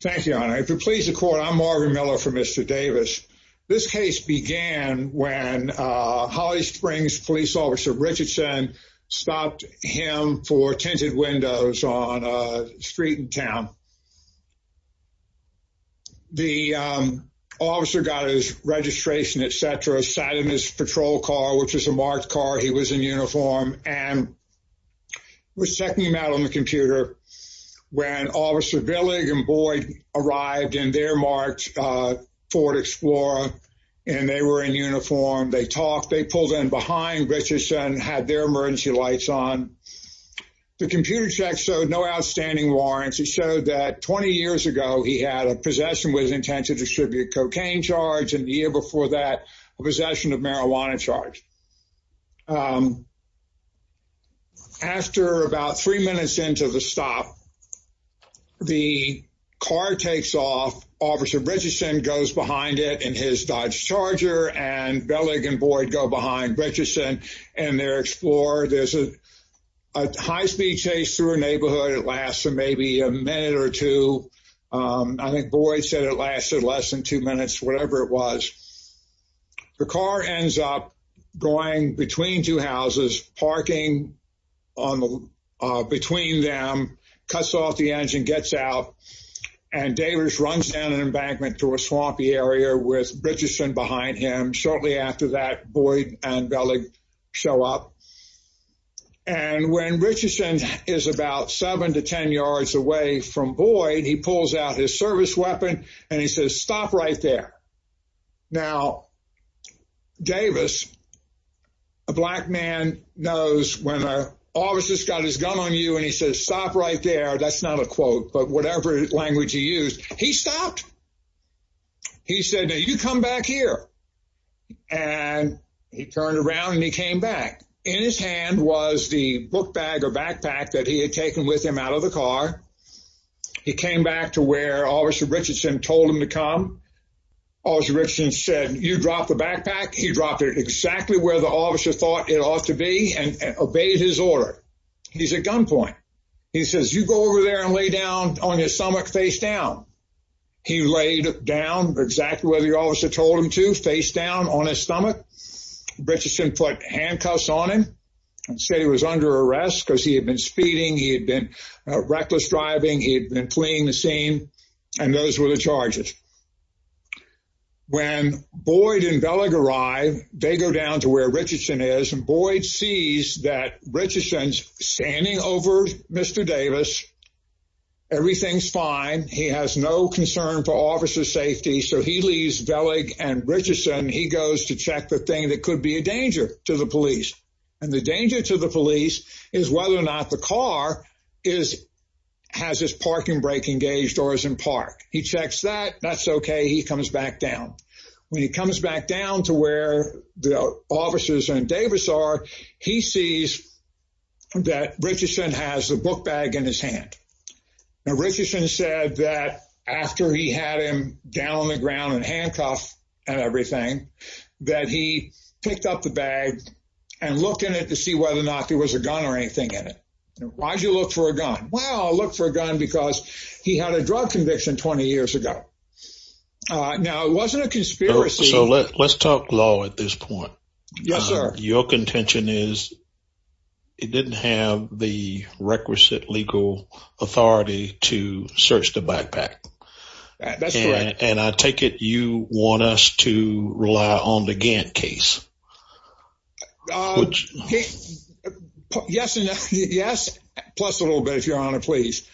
Thank you honor if you please the court, I'm Marvin Miller for mr. Davis this case began when Holly Springs police officer Richardson stopped him for tinted windows on street in town The Officer got his registration etc sat in his patrol car, which is a marked car. He was in uniform and Was checking him out on the computer When officer Billig and Boyd arrived in their marks Ford Explorer and they were in uniform. They talked they pulled in behind Richardson had their emergency lights on The computer check showed no outstanding warrants. He showed that 20 years ago He had a possession with intent to distribute cocaine charge and the year before that a possession of marijuana charge After About three minutes into the stop the car takes off officer Richardson goes behind it and his Dodge Charger and Billig and Boyd go behind Richardson and their Explorer. There's a High-speed chase through a neighborhood. It lasts for maybe a minute or two I think Boyd said it lasted less than two minutes, whatever it was The car ends up going between two houses parking on the between them cuts off the engine gets out and Davis runs down an embankment to a swampy area with Richardson behind him shortly after that Boyd and Billig show up and When Richardson is about seven to ten yards away from Boyd He pulls out his service weapon and he says stop right there now Davis a Black man knows when our officers got his gun on you and he says stop right there That's not a quote, but whatever language he used he stopped he said now you come back here and He turned around and he came back in his hand was the book bag or backpack that he had taken with him out of the car He came back to where officer Richardson told him to come Officer Richardson said you dropped the backpack He dropped it exactly where the officer thought it ought to be and obeyed his order. He's a gunpoint He says you go over there and lay down on your stomach face down He laid down exactly where the officer told him to face down on his stomach Richardson put handcuffs on him and said he was under arrest because he had been speeding he had been Reckless driving he had been playing the same and those were the charges When Boyd and Bellic arrive they go down to where Richardson is and Boyd sees that Richardson's standing over. Mr. Davis Everything's fine. He has no concern for officer safety. So he leaves Bellic and Richardson he goes to check the thing that could be a danger to the police and the danger to the police is whether or not the car is Has his parking brake engaged or is in park he checks that that's okay He comes back down when he comes back down to where the officers and Davis are he sees That Richardson has a book bag in his hand Now Richardson said that after he had him down on the ground and handcuffed and everything That he picked up the bag and looked in it to see whether or not there was a gun or anything in it Why'd you look for a gun? Well, I'll look for a gun because he had a drug conviction 20 years ago Now it wasn't a conspiracy. So let's talk law at this point. Yes, sir. Your contention is It didn't have the requisite legal authority to search the backpack And I take it you want us to rely on the Gantt case Yes, yes plus a little bit if you're on it, please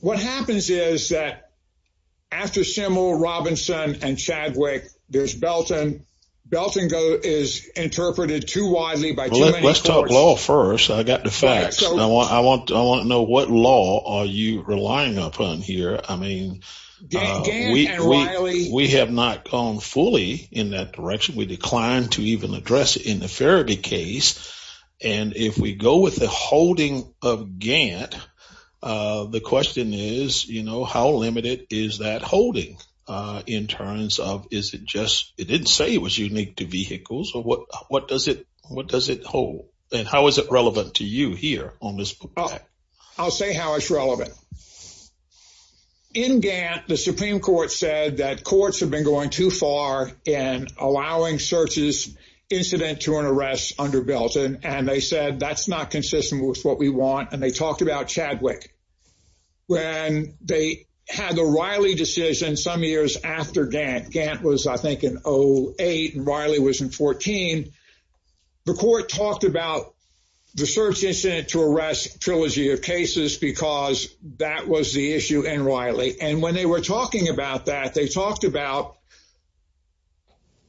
What happens is that After Simmel Robinson and Chadwick, there's Belton Belton go is interpreted too widely by let's talk law first. I got the facts I want I want to know what law are you relying upon here? I mean We have not called Fully in that direction we declined to even address in the Farabee case and if we go with the holding of Gant The question is, you know, how limited is that holding? In terms of is it just it didn't say it was unique to vehicles or what what does it? What does it hold and how is it relevant to you here on this? I'll say how it's relevant In Gantt, the Supreme Court said that courts have been going too far in allowing searches Incident to an arrest under Belton and they said that's not consistent with what we want and they talked about Chadwick When they had the Riley decision some years after Gantt Gantt was I think in oh eight and Riley was in 14 the court talked about The search incident to arrest trilogy of cases because that was the issue in Riley and when they were talking about that they talked about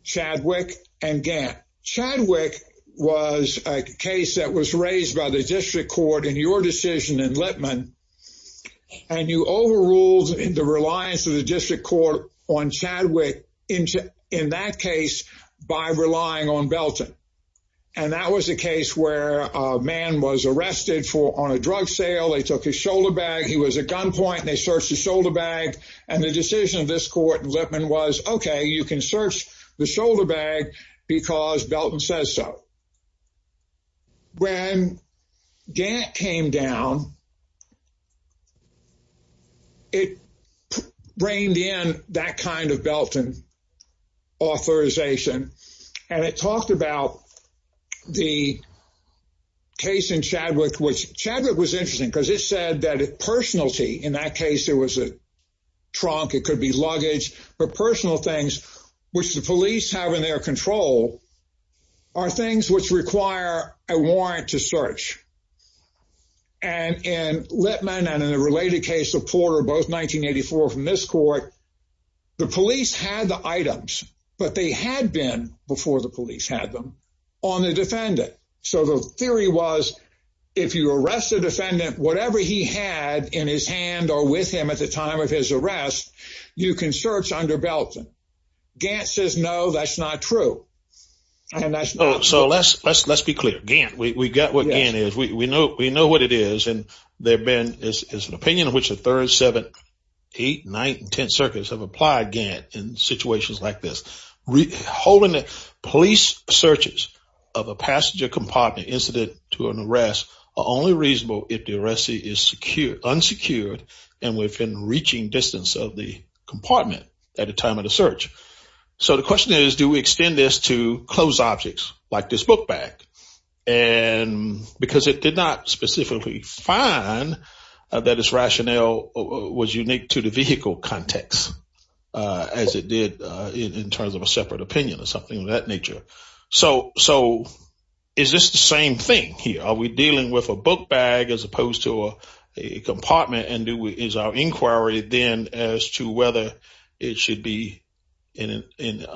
Chadwick and Gantt Chadwick was a case that was raised by the district court in your decision in Lipman and You overruled in the reliance of the district court on Chadwick into in that case By relying on Belton and That was a case where a man was arrested for on a drug sale. They took his shoulder bag He was a gunpoint and they searched his shoulder bag and the decision of this court in Lipman was okay You can search the shoulder bag because Belton says so When Gantt came down It reigned in that kind of Belton Authorization and it talked about the case in Chadwick which Chadwick was interesting because it said that it personality in that case there was a Trunk it could be luggage, but personal things which the police have in their control are things which require a warrant to search and In Lipman and in a related case of Porter both 1984 from this court The police had the items but they had been before the police had them on the defendant So the theory was if you arrest a defendant whatever he had in his hand or with him at the time of his arrest You can search under Belton Gantt says no, that's not true And that's so let's let's be clear Gantt. We got what Gantt is We know we know what it is and there been is an opinion of which the third seven Eight nine and ten circuits have applied Gantt in situations like this holding the police searches of a passenger compartment incident to an arrest are only reasonable if the arrestee is Secured unsecured and within reaching distance of the compartment at a time of the search so the question is do we extend this to close objects like this book bag and Because it did not specifically find That its rationale was unique to the vehicle context As it did in terms of a separate opinion or something of that nature So so is this the same thing here? Are we dealing with a book bag as opposed to a compartment and do is our inquiry then as to whether it should be in an If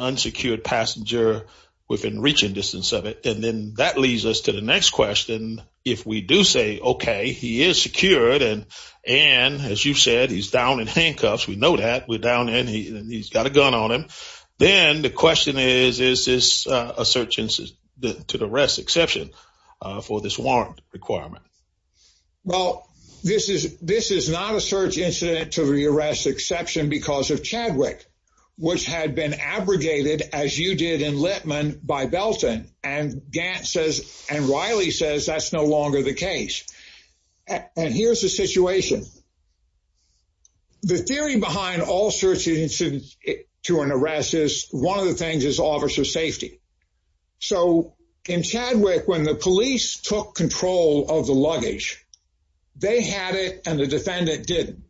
we do say okay, he is secured and and as you've said he's down in handcuffs We know that we're down and he's got a gun on him Then the question is is this a search instance to the rest exception for this warrant requirement? Well, this is this is not a search incident to the arrest exception because of Chadwick which had been abrogated as you did in Littman by Belton and Gantt says and Riley says that's no longer the case. And here's the situation The theory behind all search incidents to an arrest is one of the things is officer safety So in Chadwick when the police took control of the luggage They had it and the defendant didn't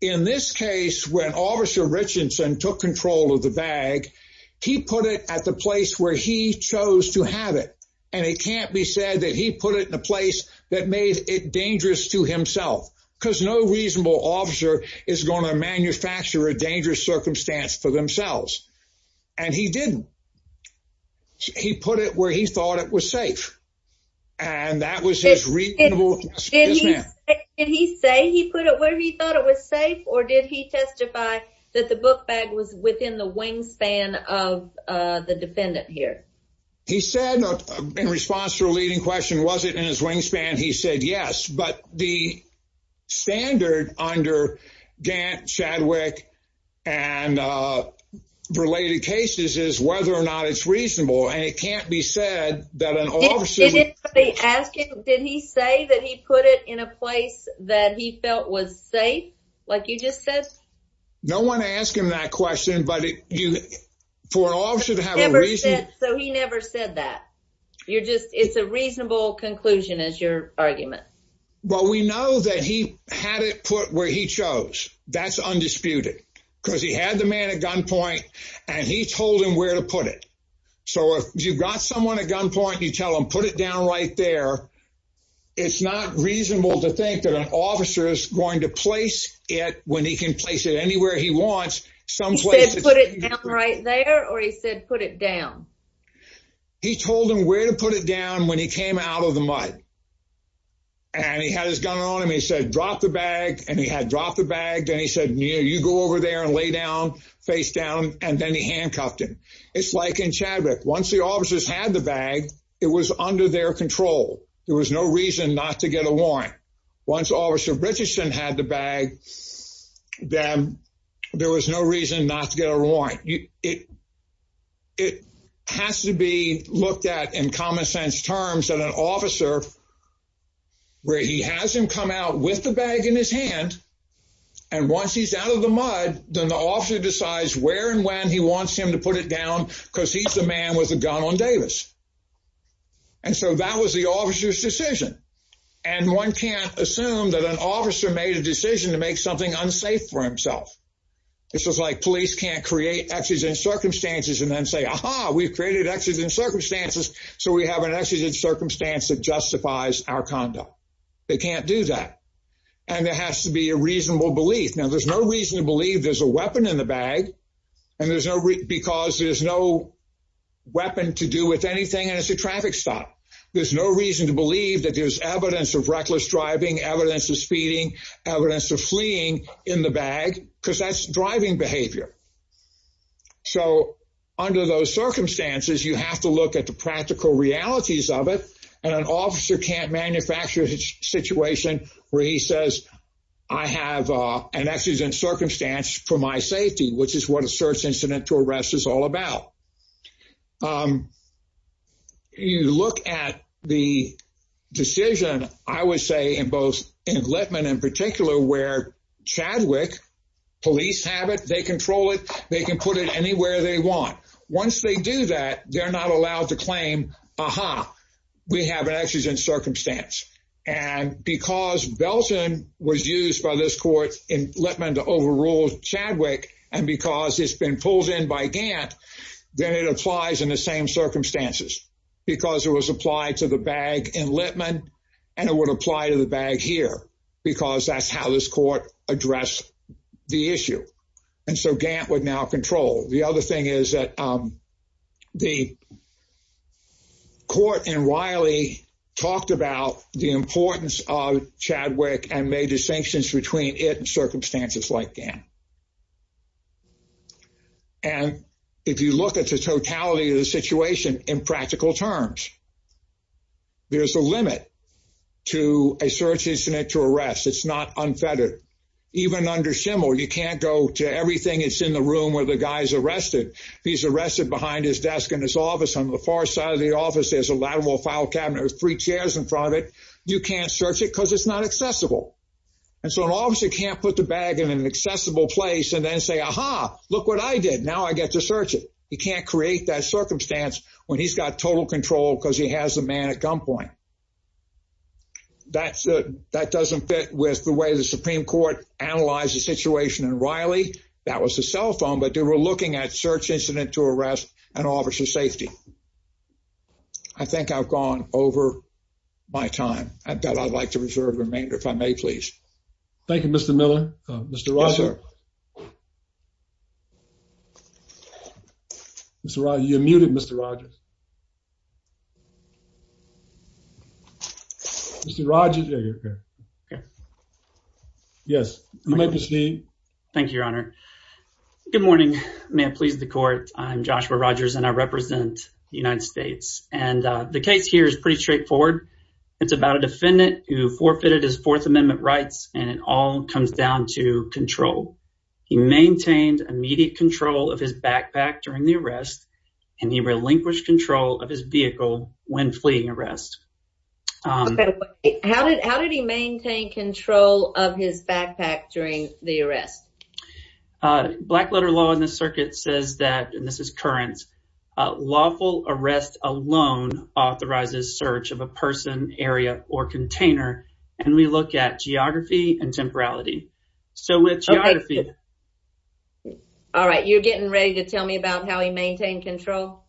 in this case when officer Richardson took control of the bag He put it at the place where he chose to have it and it can't be said that he put it in a place that Made it dangerous to himself because no reasonable officer is going to manufacture a dangerous circumstance for themselves And he didn't He put it where he thought it was safe and That was his reason And he say he put it where he thought it was safe or did he testify that the book bag was within the wingspan of The defendant here. He said in response to a leading question. Was it in his wingspan? He said yes, but the standard under Gantt Chadwick and Related cases is whether or not it's reasonable and it can't be said that an officer Did he say that he put it in a place that he felt was safe like you just said No one asked him that question, but you for all should have a reason so he never said that You're just it's a reasonable conclusion as your argument. Well, we know that he had it put where he chose That's undisputed because he had the man at gunpoint and he told him where to put it So if you've got someone at gunpoint you tell them put it down right there It's not reasonable to think that an officer is going to place it when he can place it anywhere He wants some place put it down right there or he said put it down He told him where to put it down when he came out of the mud And he had his gun on him He said drop the bag and he had dropped the bag then he said near you go over there and lay down Face down and then he handcuffed him. It's like in Chadwick. Once the officers had the bag. It was under their control There was no reason not to get a warrant once officer Richardson had the bag then There was no reason not to get a warrant you it It has to be looked at in common-sense terms and an officer where he has him come out with the bag in his hand and He's out of the mud then the officer decides where and when he wants him to put it down because he's the man with a gun on Davis and So that was the officer's decision and one can't assume that an officer made a decision to make something unsafe for himself This was like police can't create accidents circumstances and then say aha. We've created accidents circumstances So we have an accident circumstance that justifies our conduct They can't do that and there has to be a reasonable belief now there's no reason to believe there's a weapon in the bag and there's no because there's no Weapon to do with anything and it's a traffic stop There's no reason to believe that there's evidence of reckless driving evidence of speeding Evidence of fleeing in the bag because that's driving behavior so Under those circumstances you have to look at the practical realities of it and an officer can't manufacture his Situation where he says I have an accident circumstance for my safety, which is what a search incident to arrest is all about You look at the Decision I would say in both in Litman in particular where Chadwick Police have it. They control it. They can put it anywhere. They want once they do that. They're not allowed to claim. Aha we have an accident circumstance and Because Belton was used by this court in Litman to overrule Chadwick and because it's been pulled in by Gant Then it applies in the same circumstances Because it was applied to the bag in Litman and it would apply to the bag here because that's how this court addressed the issue and so Gant would now control the other thing is that the Court and Riley talked about the importance of Chadwick and made distinctions between it and circumstances like Gant and If you look at the totality of the situation in practical terms There's a limit To a search incident to arrest. It's not unfettered even under Schimel. You can't go to everything It's in the room where the guy's arrested. He's arrested behind his desk in his office on the far side of the office There's a lateral file cabinet with three chairs in front of it You can't search it because it's not accessible And so an officer can't put the bag in an accessible place and then say aha Look what I did now I get to search it He can't create that circumstance when he's got total control because he has a man at gunpoint That's it that doesn't fit with the way the Supreme Court analyzed the situation in Riley That was a cell phone, but they were looking at search incident to arrest an officer safety. I Think I've gone over my time. I bet I'd like to reserve remainder if I may, please Thank You. Mr. Miller. Mr. Rosser Mr. Rye you're muted. Mr. Rogers Mr. Rogers Yes, let me see Thank You Your Honor Good morning. May it please the court? I'm Joshua Rogers and I represent the United States and the case here is pretty straightforward It's about a defendant who forfeited his Fourth Amendment rights and it all comes down to control He maintained immediate control of his backpack during the arrest and he relinquished control of his vehicle when fleeing arrest Okay, how did how did he maintain control of his backpack during the arrest? Black letter law in the circuit says that and this is current lawful arrest alone authorizes search of a person area or container and we look at geography and temporality so with All right, you're getting ready to tell me about how he maintained control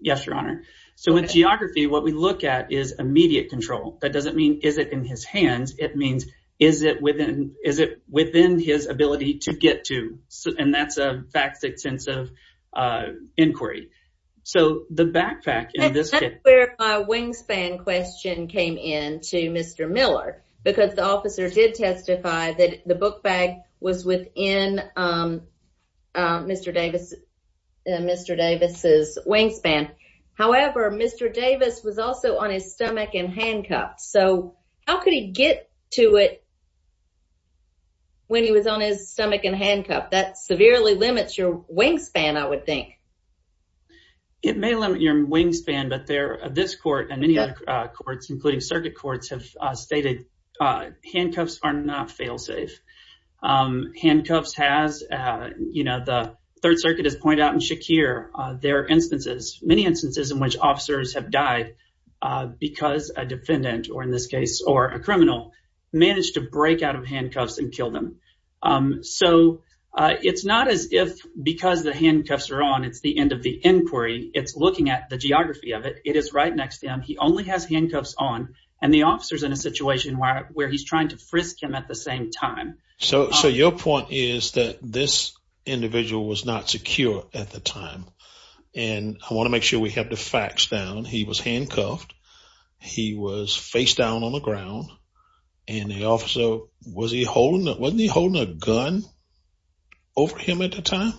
Yes, Your Honor, so in geography what we look at is immediate control that doesn't mean is it in his hands It means is it within is it within his ability to get to so and that's a facts extensive Inquiry, so the backpack in this where my wingspan question came in to mr Miller because the officer did testify that the book bag was within Mr. Davis Mr. Davis's wingspan. However, mr. Davis was also on his stomach and handcuffed. So how could he get to it? When he was on his stomach and handcuffed that severely limits your wingspan I would think It may limit your wingspan, but there this court and many other courts including circuit courts have stated Handcuffs are not failsafe Handcuffs has You know, the Third Circuit has pointed out in Shakir there are instances many instances in which officers have died Because a defendant or in this case or a criminal managed to break out of handcuffs and kill them so It's not as if because the handcuffs are on it's the end of the inquiry. It's looking at the geography of it It is right next to him He only has handcuffs on and the officers in a situation where he's trying to frisk him at the same time So so your point is that this? Individual was not secure at the time and I want to make sure we have the facts down. He was handcuffed He was face down on the ground and the officer was he holding that wasn't he holding a gun? Over him at the time.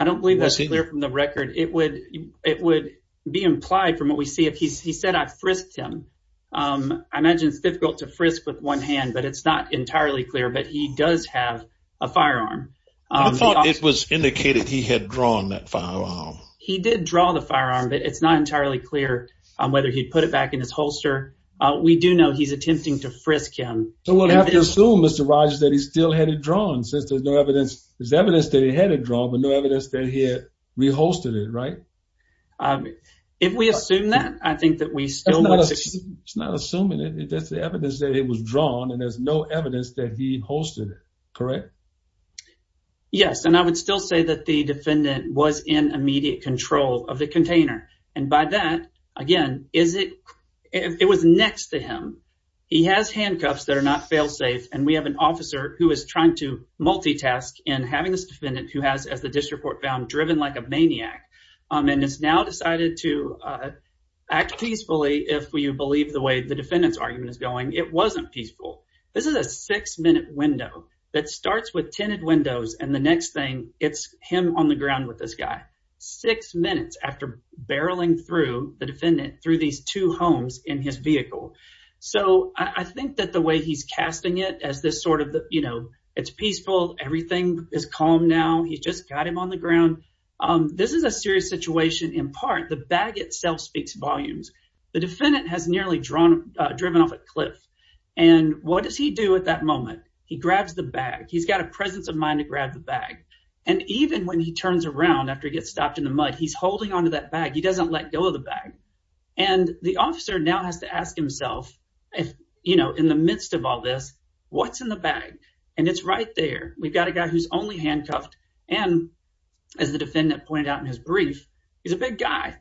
I don't believe that's clear from the record It would it would be implied from what we see if he said I frisked him I imagine it's difficult to frisk with one hand, but it's not entirely clear, but he does have a firearm It was indicated he had drawn that firearm He did draw the firearm, but it's not entirely clear on whether he'd put it back in his holster We do know he's attempting to frisk him. So we'll have to assume. Mr Rogers that he still had it drawn since there's no evidence. There's evidence that he had a draw but no evidence that he had Rehosted it, right? If we assume that I think that we still It's not assuming it. That's the evidence that it was drawn and there's no evidence that he hosted it, correct Yes, and I would still say that the defendant was in immediate control of the container and by that again Is it it was next to him? He has handcuffs that are not fail-safe and we have an officer who is trying to To Act peacefully if we you believe the way the defendant's argument is going. It wasn't peaceful This is a six minute window that starts with tinted windows and the next thing it's him on the ground with this guy Six minutes after barreling through the defendant through these two homes in his vehicle So I think that the way he's casting it as this sort of the you know, it's peaceful. Everything is calm now He just got him on the ground This is a serious situation in part the bag itself speaks volumes the defendant has nearly drawn driven off a cliff and What does he do at that moment? He grabs the bag He's got a presence of mind to grab the bag and even when he turns around after he gets stopped in the mud He's holding on to that bag. He doesn't let go of the bag and The officer now has to ask himself if you know in the midst of all this what's in the bag and it's right there we've got a guy who's only handcuffed and As the defendant pointed out in his brief, he's a big guy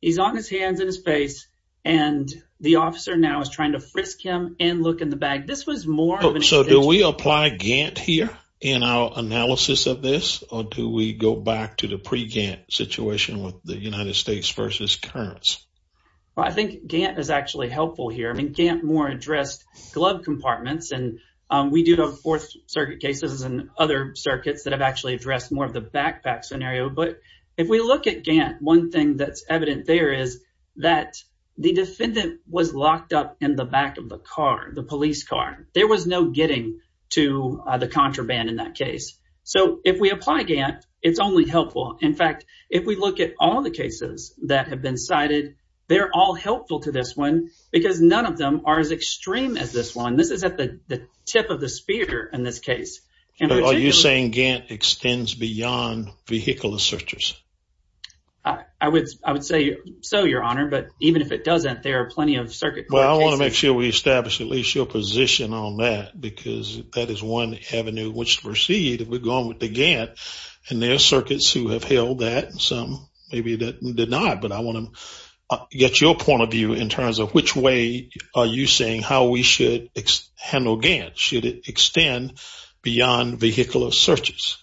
he's on his hands in his face and The officer now is trying to frisk him and look in the bag. This was more So do we apply Gantt here in our analysis of this or do we go back to the pre Gantt? Situation with the United States versus currents. I think Gantt is actually helpful here I mean can't more addressed glove compartments We do know fourth circuit cases and other circuits that have actually addressed more of the backpack scenario But if we look at Gantt one thing that's evident There is that the defendant was locked up in the back of the car the police car There was no getting to the contraband in that case. So if we apply Gantt, it's only helpful In fact, if we look at all the cases that have been cited They're all helpful to this one because none of them are as extreme as this one This is at the tip of the spear in this case. Are you saying Gantt extends beyond? vehicular searchers I Would I would say so your honor, but even if it doesn't there are plenty of circuit well I want to make sure we establish at least your position on that because that is one avenue which to proceed if we're going with And their circuits who have held that some maybe that did not but I want to Get your point of view in terms of which way are you saying how we should? Handle Gantt should it extend beyond vehicular searches?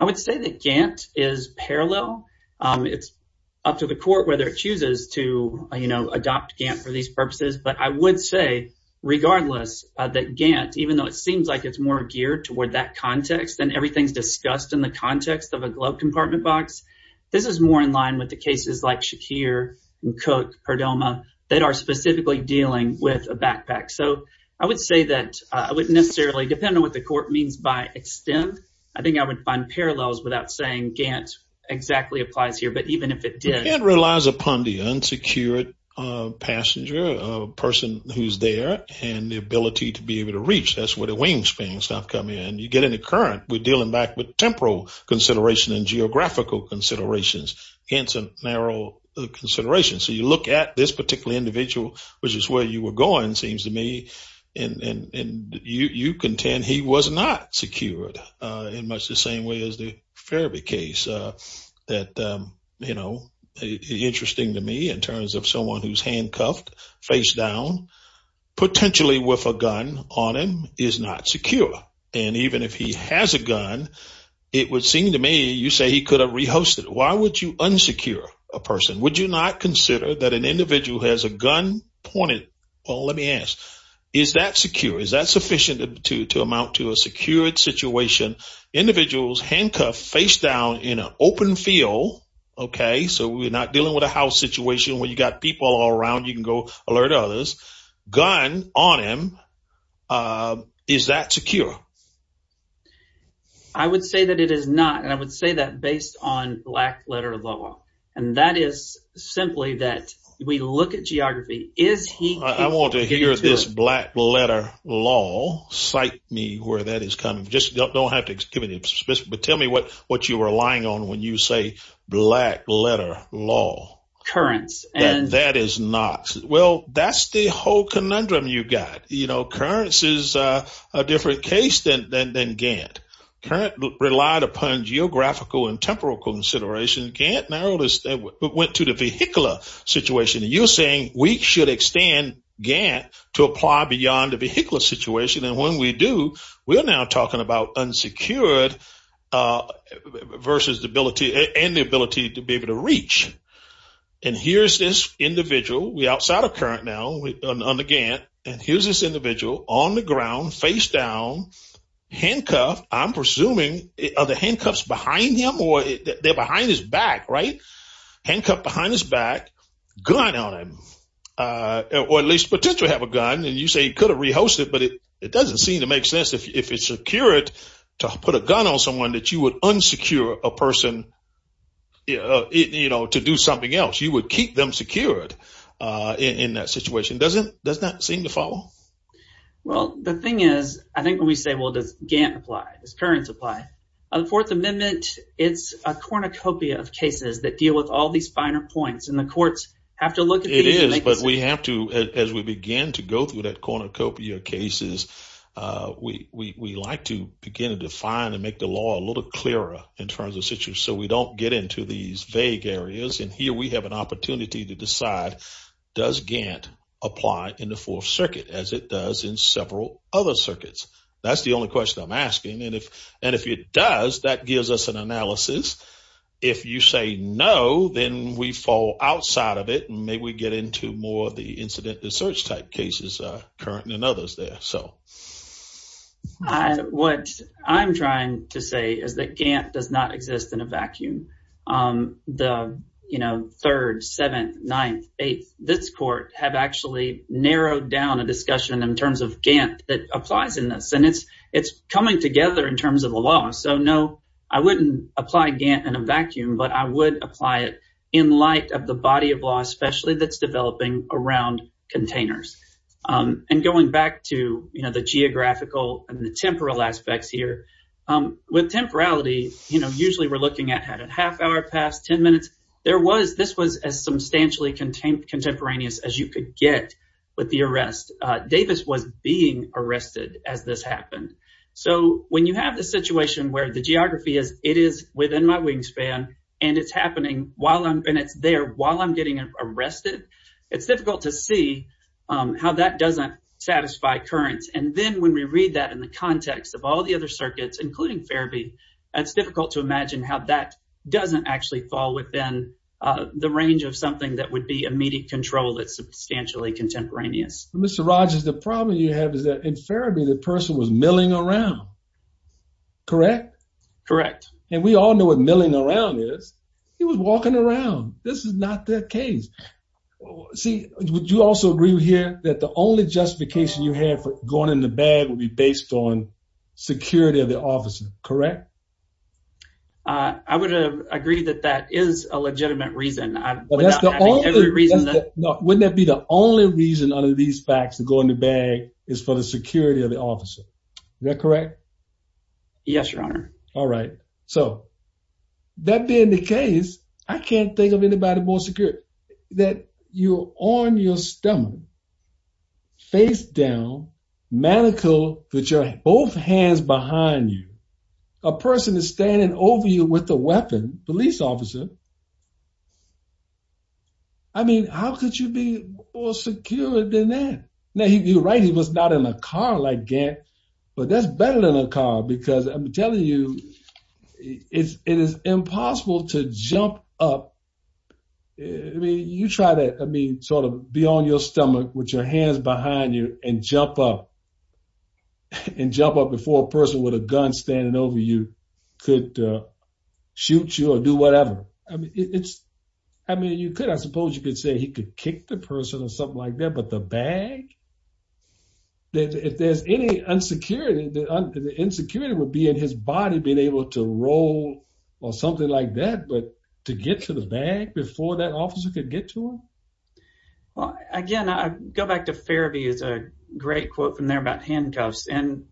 I Would say that Gantt is parallel It's up to the court whether it chooses to you know, adopt Gantt for these purposes, but I would say Regardless that Gantt even though it seems like it's more geared toward that context and everything's discussed in the context of a glove compartment box This is more in line with the cases like Shakir and cook Perdomo that are specifically dealing with a backpack So I would say that I would necessarily depend on what the court means by extent I think I would find parallels without saying Gantt exactly applies here But even if it did it relies upon the unsecured Passenger a person who's there and the ability to be able to reach that's where the wingspan stuff come in and you get in the current We're dealing back with temporal consideration and geographical considerations handsome narrow consideration so you look at this particular individual which is where you were going seems to me and You you contend he was not secured in much the same way as the Fairview case that you know Interesting to me in terms of someone who's handcuffed face down Potentially with a gun on him is not secure and even if he has a gun It would seem to me you say he could have rehosted. Why would you unsecure a person? Would you not consider that an individual has a gun pointed? Well, let me ask is that secure is that sufficient to amount to a secured situation? Individuals handcuffed face down in an open field Okay, so we're not dealing with a house situation where you got people all around you can go alert others gun on him Is that secure? I? Would say that it is not and I would say that based on black letter of law and that is Simply that we look at geography is he I want to hear this black letter law Cite me where that is coming. Just don't don't have to give any but tell me what what you were lying on when you say black letter law Currents and that is not well, that's the whole conundrum you got, you know Currents is a different case than then then Gantt Current relied upon geographical and temporal consideration can't narrow this that went to the vehicular Situation you're saying we should extend Gantt to apply beyond the vehicular situation and when we do we are now talking about unsecured Versus the ability and the ability to be able to reach and Here's this individual we outside of current now on the Gantt and here's this individual on the ground face down Handcuff, I'm presuming of the handcuffs behind him or they're behind his back, right? Handcuff behind his back good on him Or at least potentially have a gun and you say he could have rehosted But it it doesn't seem to make sense if it's secured to put a gun on someone that you would unsecure a person You know, you know to do something else you would keep them secured In that situation doesn't does not seem to follow Well, the thing is I think when we say well does Gantt apply this current supply of the Fourth Amendment? It's a cornucopia of cases that deal with all these finer points and the courts have to look it is But we have to as we begin to go through that cornucopia cases We we like to begin to define and make the law a little clearer in terms of situ So we don't get into these vague areas and here we have an opportunity to decide Does Gantt apply in the fourth circuit as it does in several other circuits? That's the only question I'm asking and if and if it does that gives us an analysis if you say no Then we fall outside of it. Maybe we get into more of the incident research type cases current and others there. So What I'm trying to say is that Gantt does not exist in a vacuum the you know third seventh ninth eighth This court have actually narrowed down a discussion in terms of Gantt that applies in this and it's it's coming together in terms of a Law, so no, I wouldn't apply Gantt in a vacuum But I would apply it in light of the body of law, especially that's developing around containers And going back to you know, the geographical and the temporal aspects here With temporality, you know, usually we're looking at had a half hour past ten minutes There was this was as substantially contained contemporaneous as you could get with the arrest Davis was being arrested as this happened So when you have the situation where the geography is it is within my wingspan and it's happening while I'm been it's there while I'm getting arrested. It's difficult to see How that doesn't satisfy currents and then when we read that in the context of all the other circuits including therapy It's difficult to imagine how that doesn't actually fall within The range of something that would be immediate control. That's substantially contemporaneous. Mr. Rogers. The problem you have is that in therapy? The person was milling around Correct, correct, and we all know what milling around is he was walking around. This is not that case See, would you also agree here that the only justification you have for going in the bag will be based on Security of the officer, correct? I would have agreed that that is a legitimate reason Wouldn't that be the only reason under these facts to go in the bag is for the security of the officer. They're correct Yes, your honor. All right, so That being the case. I can't think of anybody more secure that you on your stomach face down Manicure that you're both hands behind you a person is standing over you with the weapon police officer. I Mean how could you be more secure than that now you're right He was not in a car like that, but that's better than a car because I'm telling you It's it is impossible to jump up You try that I mean sort of be on your stomach with your hands behind you and jump up And jump up before a person with a gun standing over you could Shoot you or do whatever. I mean, it's I mean you could I suppose you could say he could kick the person or something like that, but the bag that if there's any Insecurity the insecurity would be in his body being able to roll or something like that To get to the bag before that officer could get to him well, again, I go back to therapy is a great quote from there about handcuffs and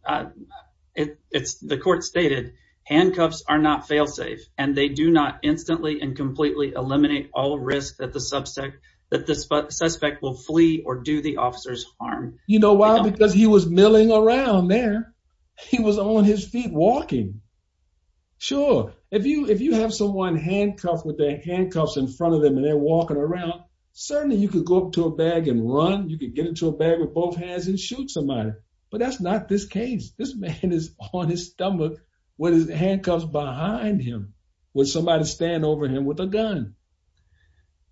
It's the court stated Handcuffs are not failsafe and they do not instantly and completely Eliminate all risk that the subsect that this suspect will flee or do the officers harm You know why because he was milling around there. He was on his feet walking Sure, if you if you have someone handcuffed with their handcuffs in front of them and they're walking around Certainly, you could go up to a bag and run you could get into a bag with both hands and shoot somebody But that's not this case. This man is on his stomach What is the handcuffs behind him with somebody stand over him with a gun?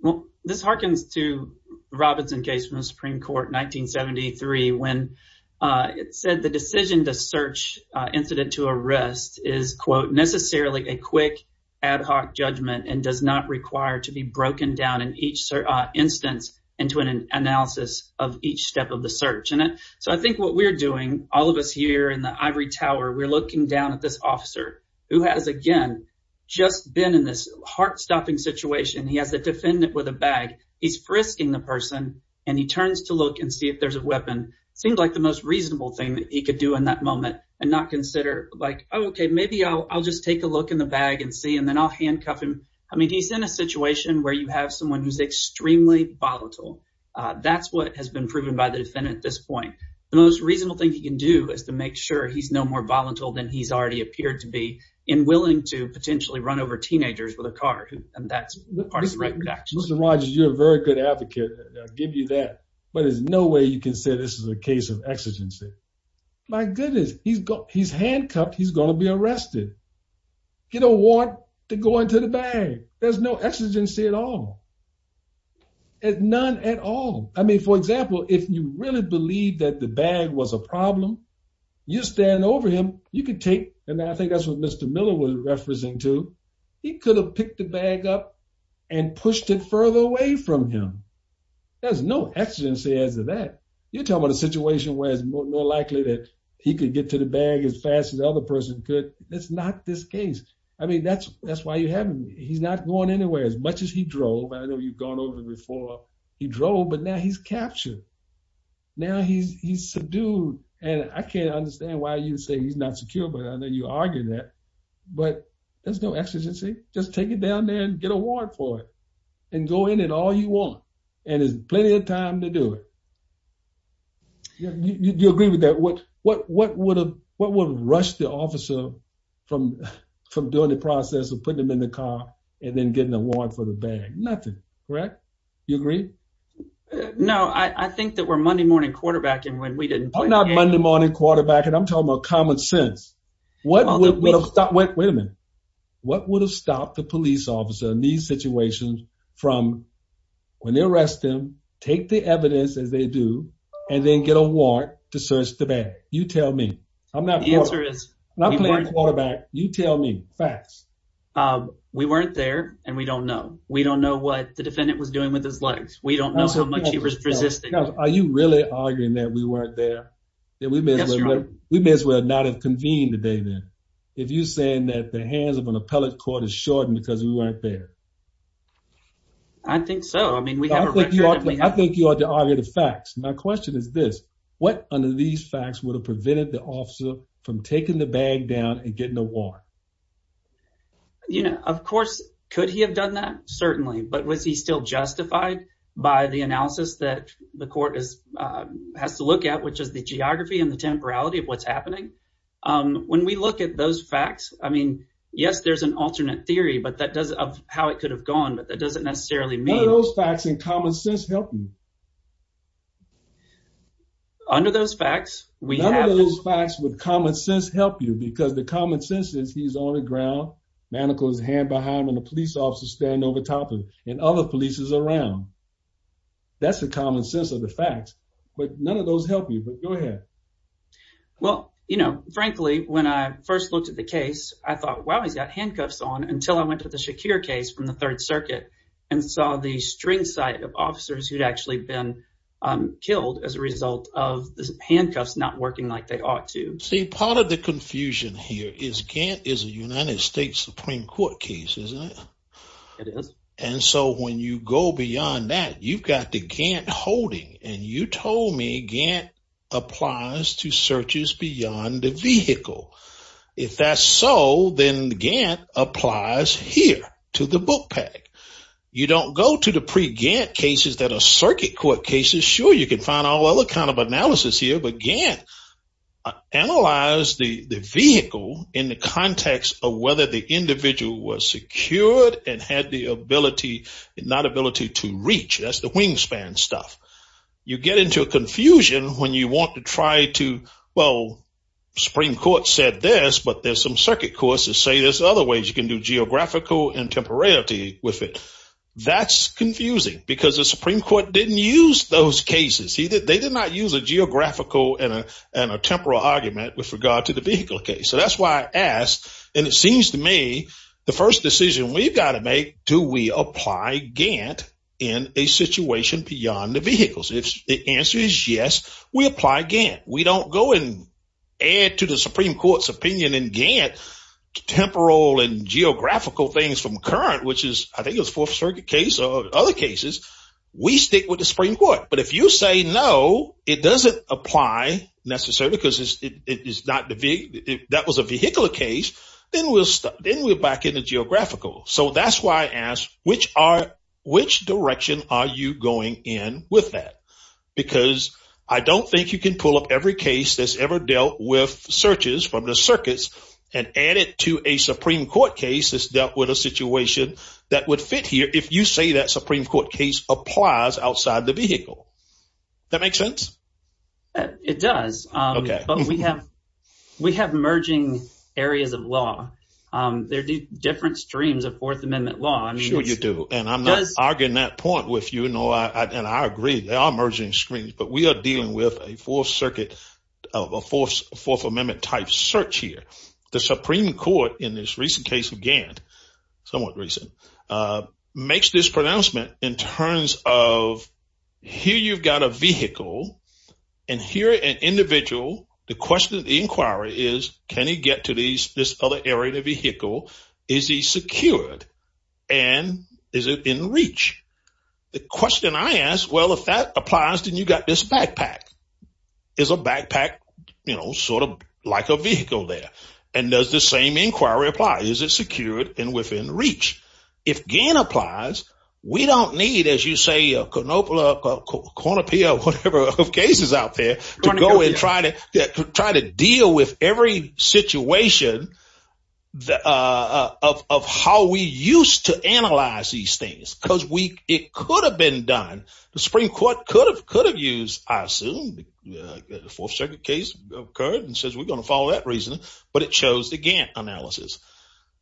well, this harkens to Robinson case from the Supreme Court 1973 when It said the decision to search Incident to arrest is quote necessarily a quick ad hoc judgment and does not require to be broken down in each Instance into an analysis of each step of the search in it So I think what we're doing all of us here in the ivory tower We're looking down at this officer who has again just been in this heart-stopping situation. He has a defendant with a bag He's frisking the person and he turns to look and see if there's a weapon Seemed like the most reasonable thing that he could do in that moment and not consider like, okay Maybe I'll just take a look in the bag and see and then I'll handcuff him I mean he's in a situation where you have someone who's extremely volatile That's what has been proven by the defendant at this point the most reasonable thing he can do is to make sure he's no more volatile than he's already appeared to be in willing to Potentially run over teenagers with a car and that's right. Mr. Rogers You're a very good advocate. I'll give you that but there's no way you can say this is a case of exigency My goodness, he's got he's handcuffed. He's gonna be arrested You don't want to go into the bag. There's no exigency at all At none at all. I mean for example if you really believe that the bag was a problem You stand over him you could take and I think that's what mr. Miller was referencing to he could have picked the bag up and Him There's no exigency as of that You're talking about a situation where it's more likely that he could get to the bag as fast as the other person could it's not This case. I mean, that's that's why you haven't he's not going anywhere as much as he drove I know you've gone over before he drove but now he's captured Now he's he's subdued and I can't understand why you say he's not secure, but I know you argued that But there's no exigency just take it down there and get a warrant for it and go in at all you want and there's Plenty of time to do it You agree with that what what what would have what would rush the officer From from doing the process of putting them in the car and then getting a warrant for the bag. Nothing, right? You agree? No, I think that we're Monday morning quarterback and when we didn't not Monday morning quarterback and I'm talking about common sense What What would have stopped the police officer in these situations from When they arrest him take the evidence as they do and then get a warrant to search the bag You tell me I'm not the answer is not playing quarterback. You tell me facts We weren't there and we don't know we don't know what the defendant was doing with his legs We don't know how much he was resisting. Are you really arguing that we weren't there? We miss would not have convened the day then if you saying that the hands of an appellate court is shortened because we weren't there I Think so. I mean we have I think you ought to argue the facts My question is this what under these facts would have prevented the officer from taking the bag down and getting a war? You know, of course could he have done that certainly but was he still justified by the analysis that the court is Has to look at which is the geography and the temporality of what's happening When we look at those facts, I mean, yes, there's an alternate theory But that does of how it could have gone, but that doesn't necessarily mean those facts in common sense help you Under those facts we have those facts with common sense help you because the common sense is he's on the ground Manacles hand behind when the police officer stand over top of and other police is around That's the common sense of the facts but none of those help you but go ahead Well, you know frankly when I first looked at the case I thought well he's got handcuffs on until I went to the Shakir case from the Third Circuit and saw the string sight of officers who'd actually been killed as a result of Handcuffs not working like they ought to see part of the confusion here is can't is a United States Supreme Court case It is and so when you go beyond that you've got the can't holding and you told me Gantt Applies to searches beyond the vehicle if that's so then the Gantt applies here to the book You don't go to the pre Gantt cases that are circuit court cases. Sure. You can find all other kind of analysis here, but Gantt Analyze the vehicle in the context of whether the individual was secured and had the ability and not ability to reach That's the wingspan stuff you get into a confusion when you want to try to well Supreme Court said this but there's some circuit courses say there's other ways you can do geographical and temporality with it That's confusing because the Supreme Court didn't use those cases See that they did not use a geographical and a temporal argument with regard to the vehicle case So that's why I asked and it seems to me the first decision We've got to make do we apply Gantt in a situation beyond the vehicles? If the answer is yes, we apply Gantt. We don't go and add to the Supreme Court's opinion in Gantt Temporal and geographical things from current which is I think it's for circuit case or other cases We stick with the Supreme Court, but if you say no, it doesn't apply Necessarily because it is not the big that was a vehicular case then we'll stop then we're back in the geographical So that's why I asked which are which direction are you going in with that? because I don't think you can pull up every case that's ever dealt with searches from the circuits and Add it to a Supreme Court case is dealt with a situation that would fit here If you say that Supreme Court case applies outside the vehicle That makes sense It does. Okay, but we have we have merging areas of law There do different streams of Fourth Amendment law I'm sure you do and I'm not arguing that point with you, you know, I and I agree They are merging screens, but we are dealing with a full circuit of a force Fourth Amendment type search here the Supreme Court in this recent case of Gantt somewhat recent makes this pronouncement in terms of here, you've got a vehicle and Here an individual the question of the inquiry is can he get to these this other area vehicle? Is he secured and Is it in reach? The question I asked well if that applies then you got this backpack Is a backpack, you know sort of like a vehicle there and does the same inquiry apply? Is it secured and within reach if Gantt applies? We don't need as you say a canopla Cornepia or whatever of cases out there to go and try to try to deal with every situation the Of how we used to analyze these things because we it could have been done The Supreme Court could have could have used I assume The fourth circuit case occurred and says we're gonna follow that reason, but it shows the Gantt analysis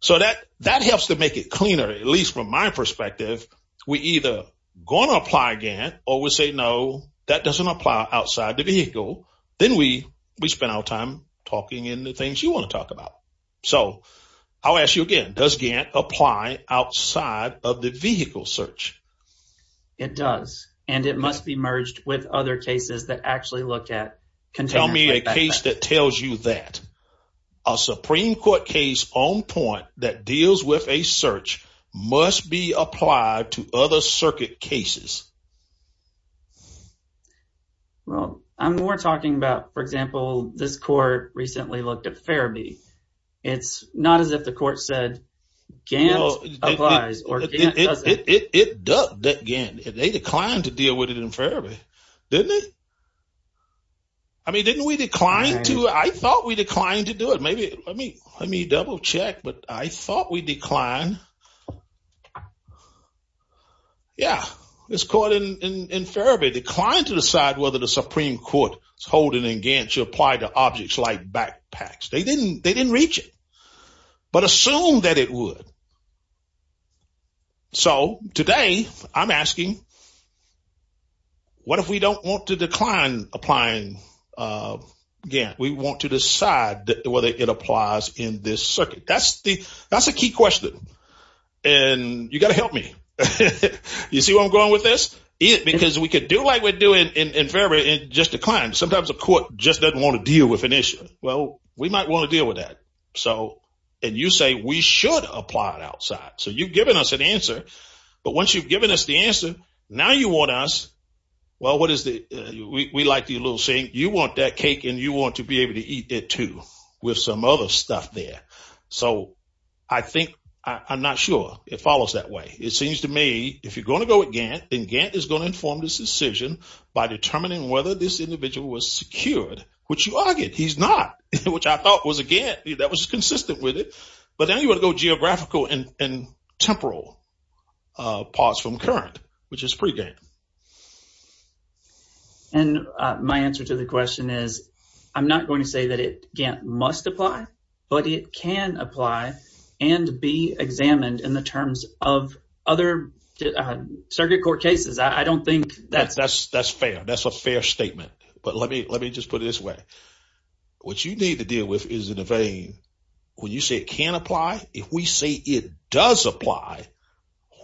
So that that helps to make it cleaner at least from my perspective We either gonna apply Gantt or we say no that doesn't apply outside the vehicle Then we we spend our time talking in the things you want to talk about So I'll ask you again does Gantt apply outside of the vehicle search It does and it must be merged with other cases that actually look at can tell me a case that tells you that a Supreme Court case on point that deals with a search must be applied to other circuit cases Well, I'm more talking about for example this court recently looked at therapy it's not as if the court said Oh It does that again if they declined to deal with it in forever didn't it I Mean didn't we decline to I thought we declined to do it. Maybe I mean, let me double-check, but I thought we decline Yeah, it's caught in Inferior decline to decide whether the Supreme Court is holding in Gantt you apply to objects like backpacks. They didn't they didn't reach it But assume that it would So today I'm asking What if we don't want to decline applying Yeah, we want to decide whether it applies in this circuit. That's the that's a key question and You got to help me You see what I'm going with this it because we could do like we're doing in in February and just declined Sometimes a court just doesn't want to deal with an issue Well, we might want to deal with that. So and you say we should apply it outside So you've given us an answer, but once you've given us the answer now you want us Well, what is the we like the little saying you want that cake and you want to be able to eat it, too? With some other stuff there. So I think I'm not sure it follows that way It seems to me if you're going to go again And Gantt is going to inform this decision by determining whether this individual was secured which you argued He's not which I thought was again. That was consistent with it. But now you want to go geographical and temporal parts from current which is pregame and My answer to the question is I'm not going to say that it can't must apply but it can apply and Be examined in the terms of other Circuit court cases. I don't think that's that's fair. That's a fair statement. But let me let me just put it this way What you need to deal with is in the vein When you say it can apply if we say it does apply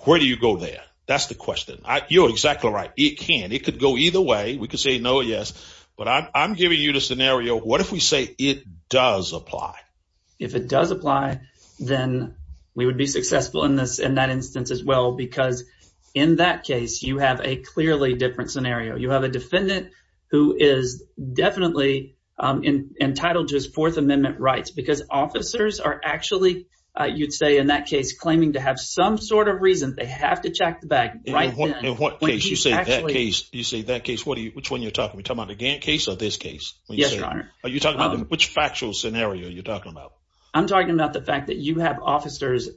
Where do you go there? That's the question. You're exactly right. It can it could go either way we could say no Yes, but I'm giving you the scenario. What if we say it does apply if it does apply Then we would be successful in this in that instance as well because in that case you have a clearly different scenario you have a defendant who is definitely Entitled just Fourth Amendment rights because officers are actually you'd say in that case claiming to have some sort of reason They have to check the bag You see that case what do you which one you're talking about again case of this case? Which factual scenario you're talking about I'm talking about the fact that you have officers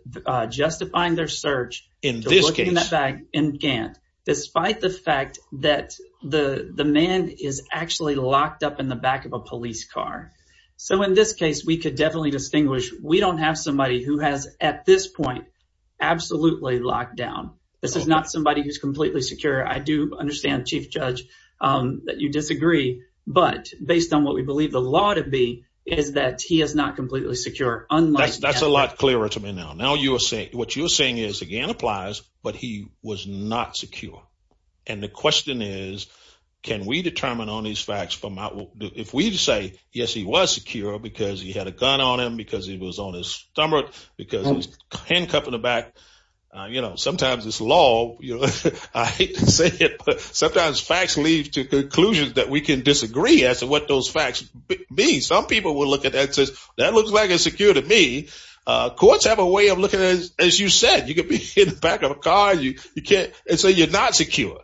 Justifying their search in this case back in Gant despite the fact that The the man is actually locked up in the back of a police car So in this case, we could definitely distinguish we don't have somebody who has at this point Absolutely locked down. This is not somebody who's completely secure. I do understand chief judge That you disagree, but based on what we believe the law to be is that he is not completely secure Unless that's a lot clearer to me now now you are saying what you're saying is again applies But he was not secure and the question is Can we determine on these facts from out if we say yes? He was secure because he had a gun on him because he was on his stomach because he's handcuffed in the back You know, sometimes it's law I Sometimes facts leads to conclusions that we can disagree as to what those facts be some people will look at that says that looks like It's secure to me Courts have a way of looking as you said you could be in the back of a car you you can't and say you're not secure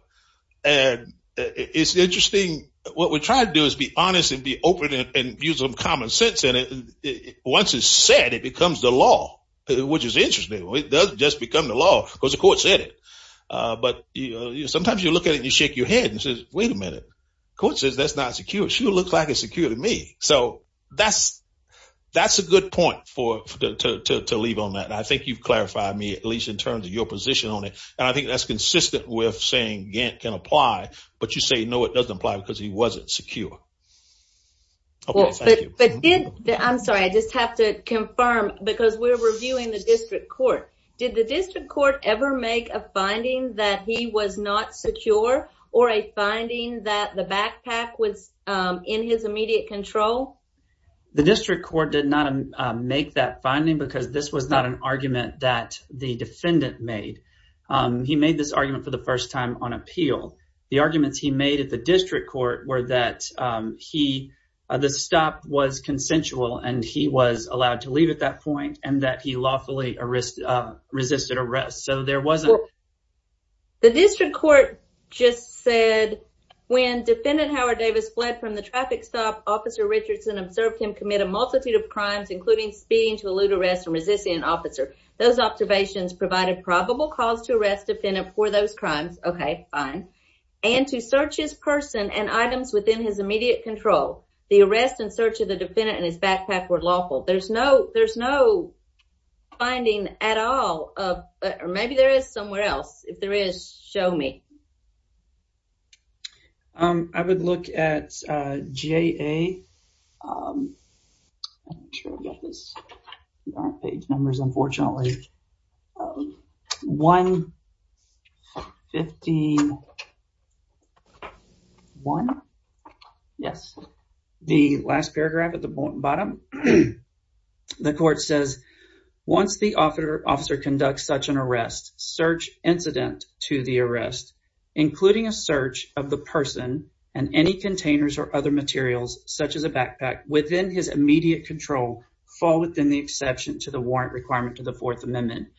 and It's interesting. What we're trying to do is be honest and be open and use some common sense in it Once it's said it becomes the law which is interesting. It doesn't just become the law because the court said it But you know, sometimes you look at it. You shake your head and says wait a minute court says that's not secure She looks like it's secure to me. So that's That's a good point for To leave on that and I think you've clarified me at least in terms of your position on it And I think that's consistent with saying Gant can apply but you say no, it doesn't apply because he wasn't secure But I'm sorry, I just have to confirm because we're reviewing the district court Did the district court ever make a finding that he was not secure or a finding that the backpack was in his immediate control The district court did not make that finding because this was not an argument that the defendant made He made this argument for the first time on appeal the arguments. He made at the district court were that He the stop was consensual and he was allowed to leave at that point and that he lawfully arrested resisted arrest so there wasn't the district court just said When defendant Howard Davis fled from the traffic stop officer Richardson observed him commit a multitude of crimes Including speeding to elude arrest and resisting an officer those observations provided probable cause to arrest defendant for those crimes Okay, fine and to search his person and items within his immediate control The arrest and search of the defendant and his backpack were lawful. There's no there's no Finding at all, but maybe there is somewhere else if there is show me Um, I would look at GA Numbers unfortunately One Fifteen One Yes, the last paragraph at the bottom The court says Once the officer officer conducts such an arrest search incident to the arrest Including a search of the person and any containers or other materials such as a backpack within his immediate control Fall within the exception to the warrant requirement to the Fourth Amendment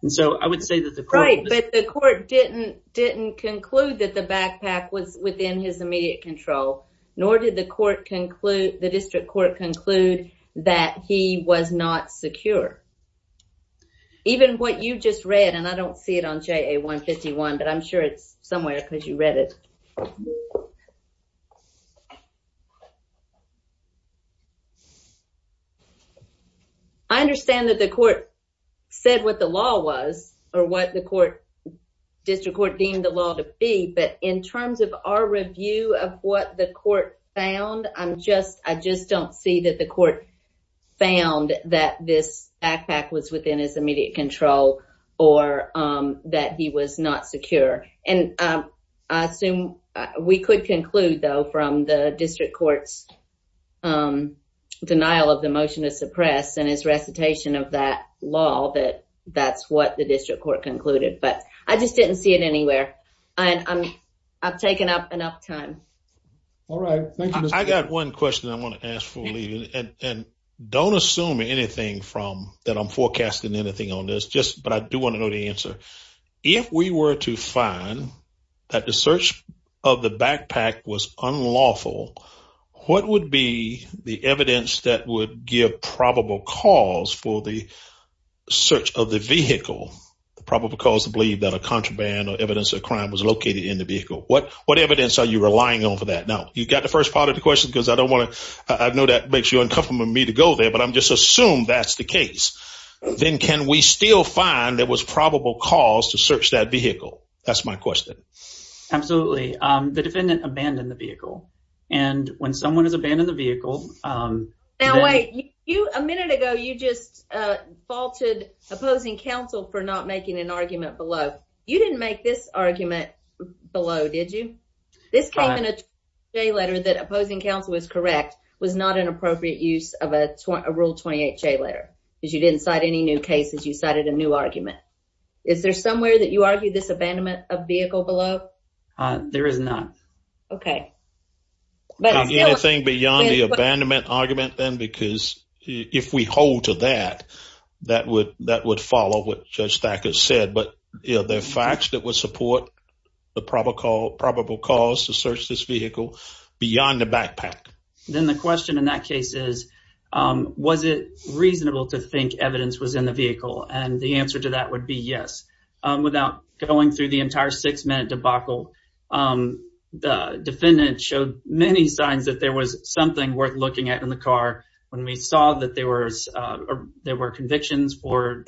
And so I would say that the right but the court didn't didn't conclude that the backpack was within his immediate control Nor did the court conclude the district court conclude that he was not secure Even what you just read and I don't see it on JA 151, but I'm sure it's somewhere because you read it. I Understand that the court said what the law was or what the court District Court deemed the law to be but in terms of our review of what the court found I'm just I just don't see that the court found that this backpack was within his immediate control or that he was not secure and Assume we could conclude though from the district courts Denial of the motion to suppress and his recitation of that law that that's what the district court concluded But I just didn't see it anywhere. And I'm I've taken up enough time All right. I got one question I want to ask for leaving and don't assume anything from that I'm forecasting anything on this just but I do want to know the answer if we were to find That the search of the backpack was unlawful what would be the evidence that would give probable cause for the Search of the vehicle Probable cause to believe that a contraband or evidence of crime was located in the vehicle What what evidence are you relying on for that now? You've got the first part of the question because I don't want to I know that makes you uncomfortable me to go there But I'm just assumed that's the case Then can we still find there was probable cause to search that vehicle? That's my question Absolutely. The defendant abandoned the vehicle and when someone has abandoned the vehicle now wait you a minute ago you just Faulted opposing counsel for not making an argument below you didn't make this argument Below did you this kind of a letter that opposing counsel was correct? Was not an appropriate use of a rule 28 J letter because you didn't cite any new cases You cited a new argument. Is there somewhere that you argue this abandonment of vehicle below? There is none. Okay Anything beyond the abandonment argument then because if we hold to that That would that would follow what judge stack has said But you know their facts that would support the probable probable cause to search this vehicle Beyond the backpack then the question in that case is Was it reasonable to think evidence was in the vehicle and the answer to that would be yes Without going through the entire six minute debacle The defendant showed many signs that there was something worth looking at in the car when we saw that there was there were convictions for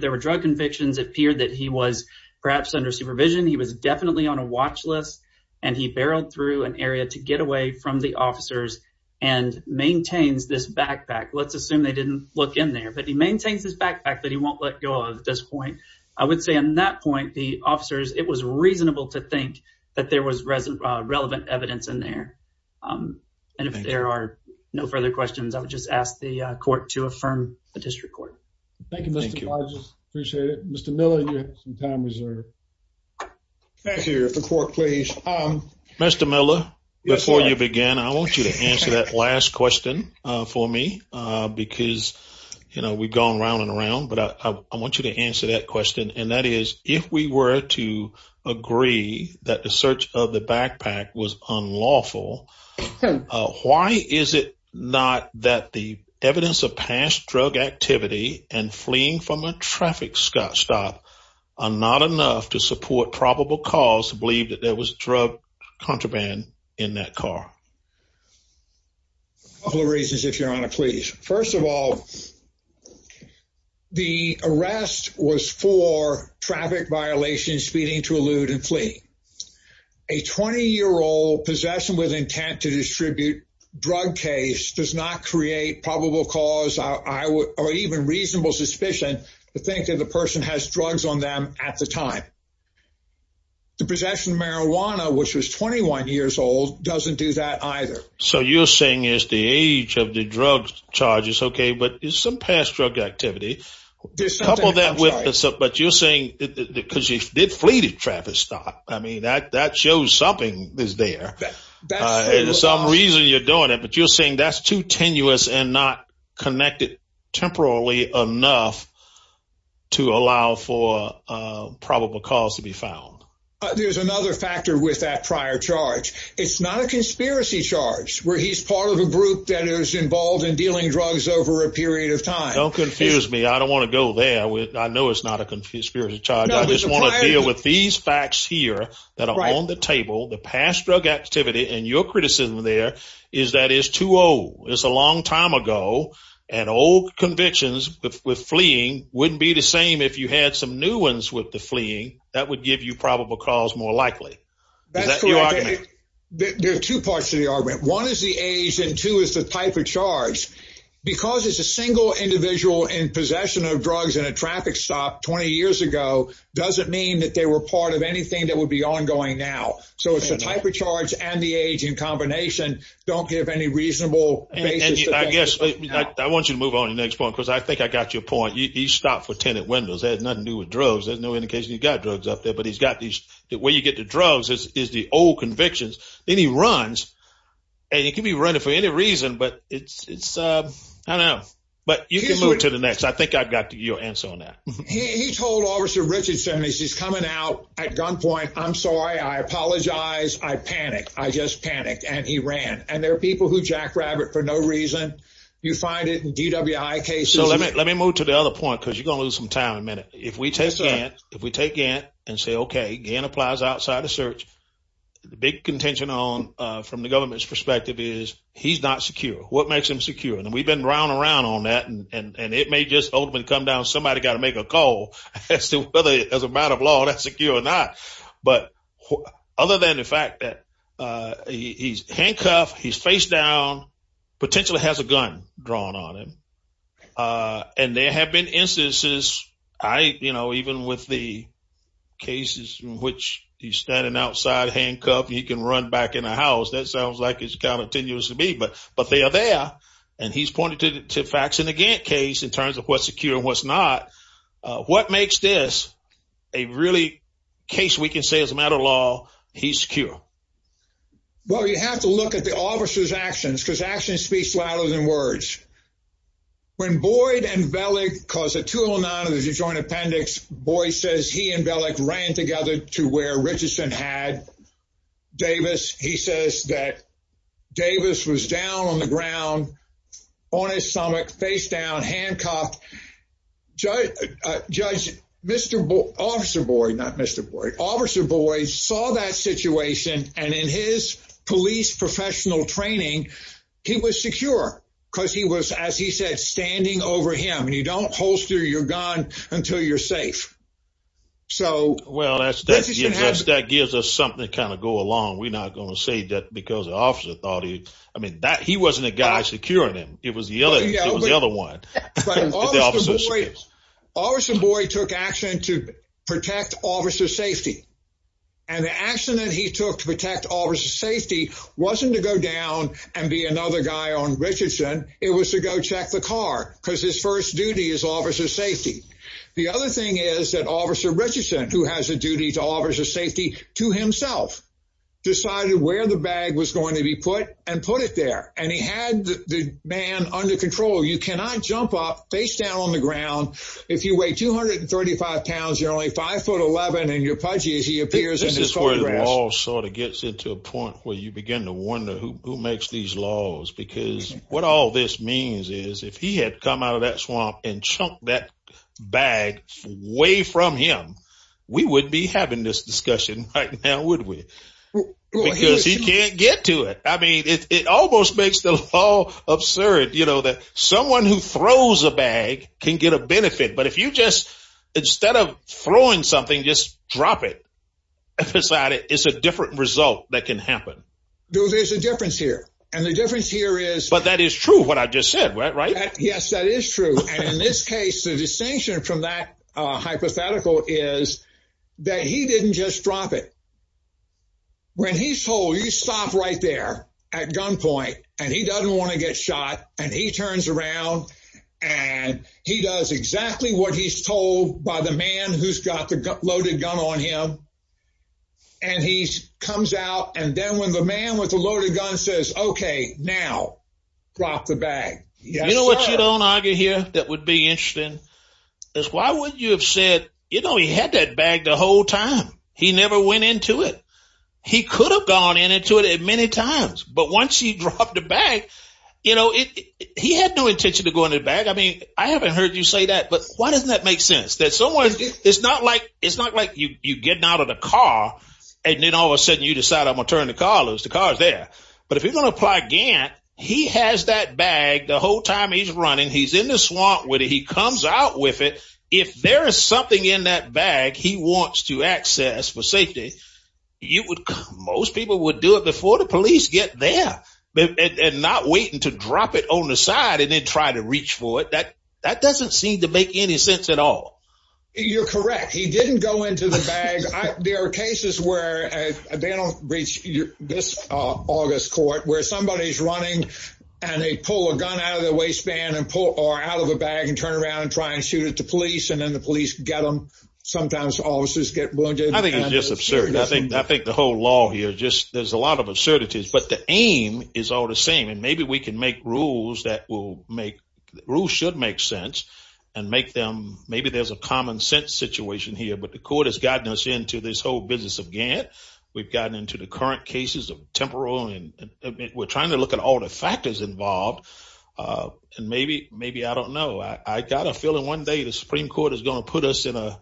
There were drug convictions appeared that he was perhaps under supervision he was definitely on a watch list and he barreled through an area to get away from the officers and Maintains this backpack. Let's assume they didn't look in there But he maintains his backpack that he won't let go of at this point I would say in that point the officers it was reasonable to think that there was resident relevant evidence in there And if there are no further questions, I would just ask the court to affirm the district court Mr. Miller before you begin I want you to answer that last question for me because You know, we've gone around and around but I want you to answer that question and that is if we were to Agree that the search of the backpack was unlawful Why is it not that the evidence of past drug activity and fleeing from a traffic stop? Not enough to support probable cause to believe that there was drug contraband in that car A couple of reasons if you're on a please first of all The arrest was for traffic violations speeding to elude and flee a 20 year old possession with intent to distribute drug case does not create probable cause I Even reasonable suspicion to think that the person has drugs on them at the time The possession of marijuana, which was 21 years old doesn't do that either So you're saying is the age of the drug charges? Okay, but it's some past drug activity Couple that with us up, but you're saying because you did flee to traffic stop. I mean that that shows something is there There's some reason you're doing it, but you're saying that's too tenuous and not connected temporarily enough to allow for Probable cause to be found. There's another factor with that prior charge It's not a conspiracy charge where he's part of a group that is involved in dealing drugs over a period of time Don't confuse me. I don't want to go there with I know it's not a confused period of time I just want to deal with these facts here that are on the table the past drug activity and your criticism There is that is too old. It's a long time ago and old convictions with fleeing Wouldn't be the same if you had some new ones with the fleeing that would give you probable cause more likely There are two parts to the argument one is the age and two is the type of charge Because it's a single individual in possession of drugs in a traffic stop 20 years ago Doesn't mean that they were part of anything that would be ongoing now So it's a type of charge and the age in combination don't give any reasonable Guess I want you to move on the next one because I think I got your point you stopped for tenant windows There's nothing new with drugs. There's no indication You got drugs up there, but he's got these the way you get the drugs is the old convictions then he runs And you can be running for any reason, but it's it's uh, I know but you can move to the next I think I've got to your answer on that. He told officer Richardson. This is coming out at gunpoint. I'm sorry Apologize, I panicked I just panicked and he ran and there are people who jackrabbit for no reason you find it in DWI case So let me let me move to the other point because you're gonna lose some time a minute if we take that if we take in And say okay again applies outside the search Big contention on from the government's perspective is he's not secure What makes him secure and we've been round around on that and and and it may just open come down somebody got to make a call As to whether as a matter of law, that's a cure or not, but other than the fact that He's handcuffed. He's face down Potentially has a gun drawn on him and there have been instances I you know, even with the Cases in which he's standing outside handcuffed. He can run back in the house That sounds like it's kind of tenuous to me But but they are there and he's pointed to the facts in the Gantt case in terms of what's secure and what's not What makes this a really case we can say as a matter of law he's secure Well, you have to look at the officer's actions because action speaks louder than words When Boyd and Bellic cause a 209 of the joint appendix boy says he and Bellic ran together to where Richardson had Davis he says that Davis was down on the ground on his stomach face down handcuffed Judge Judge, mr. Boyd officer boy, not mr. Boyd officer boys saw that situation and in his police Professional training he was secure because he was as he said standing over him and you don't holster your gun until you're safe So well, that's that's that gives us something kind of go along We're not gonna say that because the officer thought he I mean that he wasn't a guy securing him It was the other the other one Officer boy took action to protect officer safety and The accident he took to protect officer safety wasn't to go down and be another guy on Richardson It was to go check the car because his first duty is officer safety The other thing is that officer Richardson who has a duty to officer safety to himself Decided where the bag was going to be put and put it there and he had the man under control You cannot jump up face down on the ground if you weigh 235 pounds you're only 5 foot 11 and you're pudgy as he appears This is where the wall sort of gets it to a point where you begin to wonder who makes these laws Because what all this means is if he had come out of that swamp and chunk that bag Way from him. We would be having this discussion right now, would we? Because he can't get to it It almost makes the law absurd, you know that someone who throws a bag can get a benefit but if you just Instead of throwing something just drop it Decided it's a different result that can happen. No, there's a difference here. And the difference here is but that is true What I just said, right? Yes, that is true. And in this case the distinction from that Hypothetical is that he didn't just drop it When he's told you stop right there at gunpoint and he doesn't want to get shot and he turns around and he does exactly what he's told by the man who's got the loaded gun on him and He comes out and then when the man with the loaded gun says, okay now Drop the bag. Yeah, you know what? You don't argue here. That would be interesting That's why would you have said, you know, he had that bag the whole time. He never went into it He could have gone in into it at many times But once you drop the bag, you know it he had no intention to go in the bag I mean, I haven't heard you say that but why doesn't that make sense that someone it's not like it's not like you you getting Out of the car and then all of a sudden you decide I'm gonna turn the car lose the cars there But if you're gonna apply Gant, he has that bag the whole time. He's running. He's in the swamp with it He comes out with it. If there is something in that bag. He wants to access for safety You would most people would do it before the police get there And not waiting to drop it on the side and then try to reach for it that that doesn't seem to make any sense at all You're correct. He didn't go into the bag. There are cases where they don't reach this August court where somebody's running and they pull a gun out of the waistband and pull or out of a bag and turn around and Try and shoot it to police and then the police get them Sometimes officers get Absurd. I think I think the whole law here just there's a lot of absurdities but the aim is all the same and maybe we can make rules that will make Rules should make sense and make them maybe there's a common-sense situation here But the court has gotten us into this whole business of Gant We've gotten into the current cases of temporal and we're trying to look at all the factors involved And maybe maybe I don't know. I got a feeling one day. The Supreme Court is going to put us in a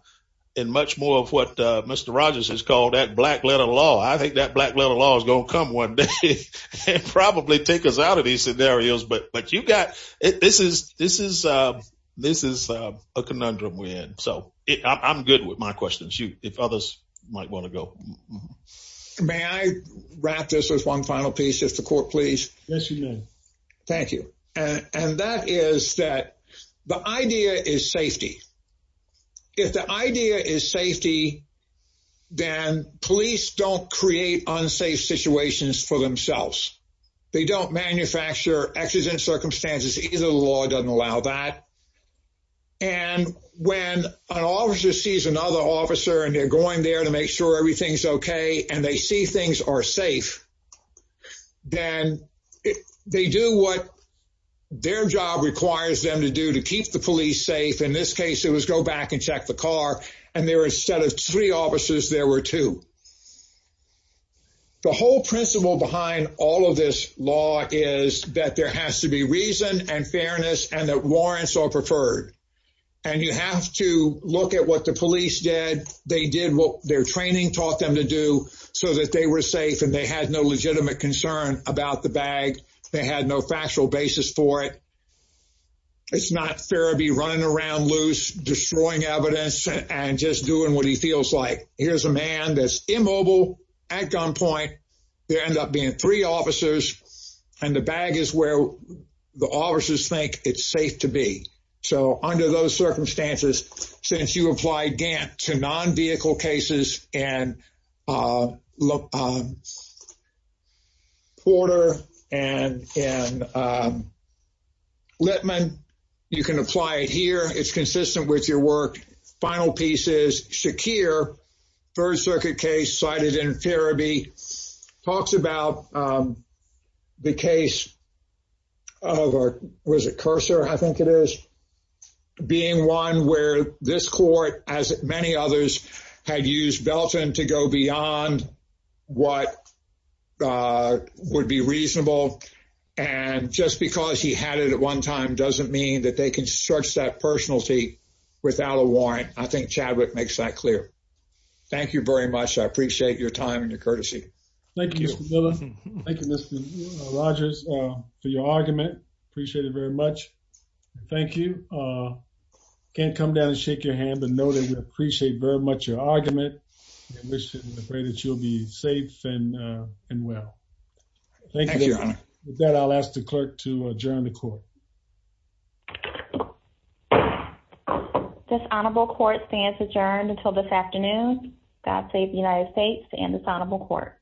Much more of what? Mr. Rogers has called that black letter law. I think that black letter law is gonna come one day Probably take us out of these scenarios. But but you got it. This is this is This is a conundrum we had so I'm good with my questions you if others might want to go May I wrap this as one final piece if the court, please Thank you. And and that is that the idea is safety If the idea is safety Then police don't create unsafe situations for themselves they don't manufacture accidents circumstances either the law doesn't allow that and When an officer sees another officer and they're going there to make sure everything's okay, and they see things are safe then They do what? Their job requires them to do to keep the police safe in this case It was go back and check the car and there instead of three officers. There were two The whole principle behind all of this law is that there has to be reason and fairness and that warrants are preferred and You have to look at what the police did They did what their training taught them to do so that they were safe and they had no legitimate concern about the bag They had no factual basis for it It's not fair to be running around loose destroying evidence and just doing what he feels like here's a man That's immobile at gunpoint There end up being three officers and the bag is where the officers think it's safe to be so under those circumstances since you applied Gant to non-vehicle cases and look Porter and Littman you can apply it here. It's consistent with your work final pieces Shakir first circuit case cited in therapy talks about the case of Our was a cursor. I think it is Being one where this court as many others had used Belton to go beyond What Would be reasonable and Just because he had it at one time doesn't mean that they can search that personality without a warrant I think Chadwick makes that clear Thank you very much. I appreciate your time and your courtesy. Thank you Rogers for your argument appreciate it very much. Thank you Can't come down and shake your hand, but know that we appreciate very much your argument Afraid that you'll be safe and and well Thank you that I'll ask the clerk to adjourn the court This honorable court stands adjourned until this afternoon God save the United States and dishonorable court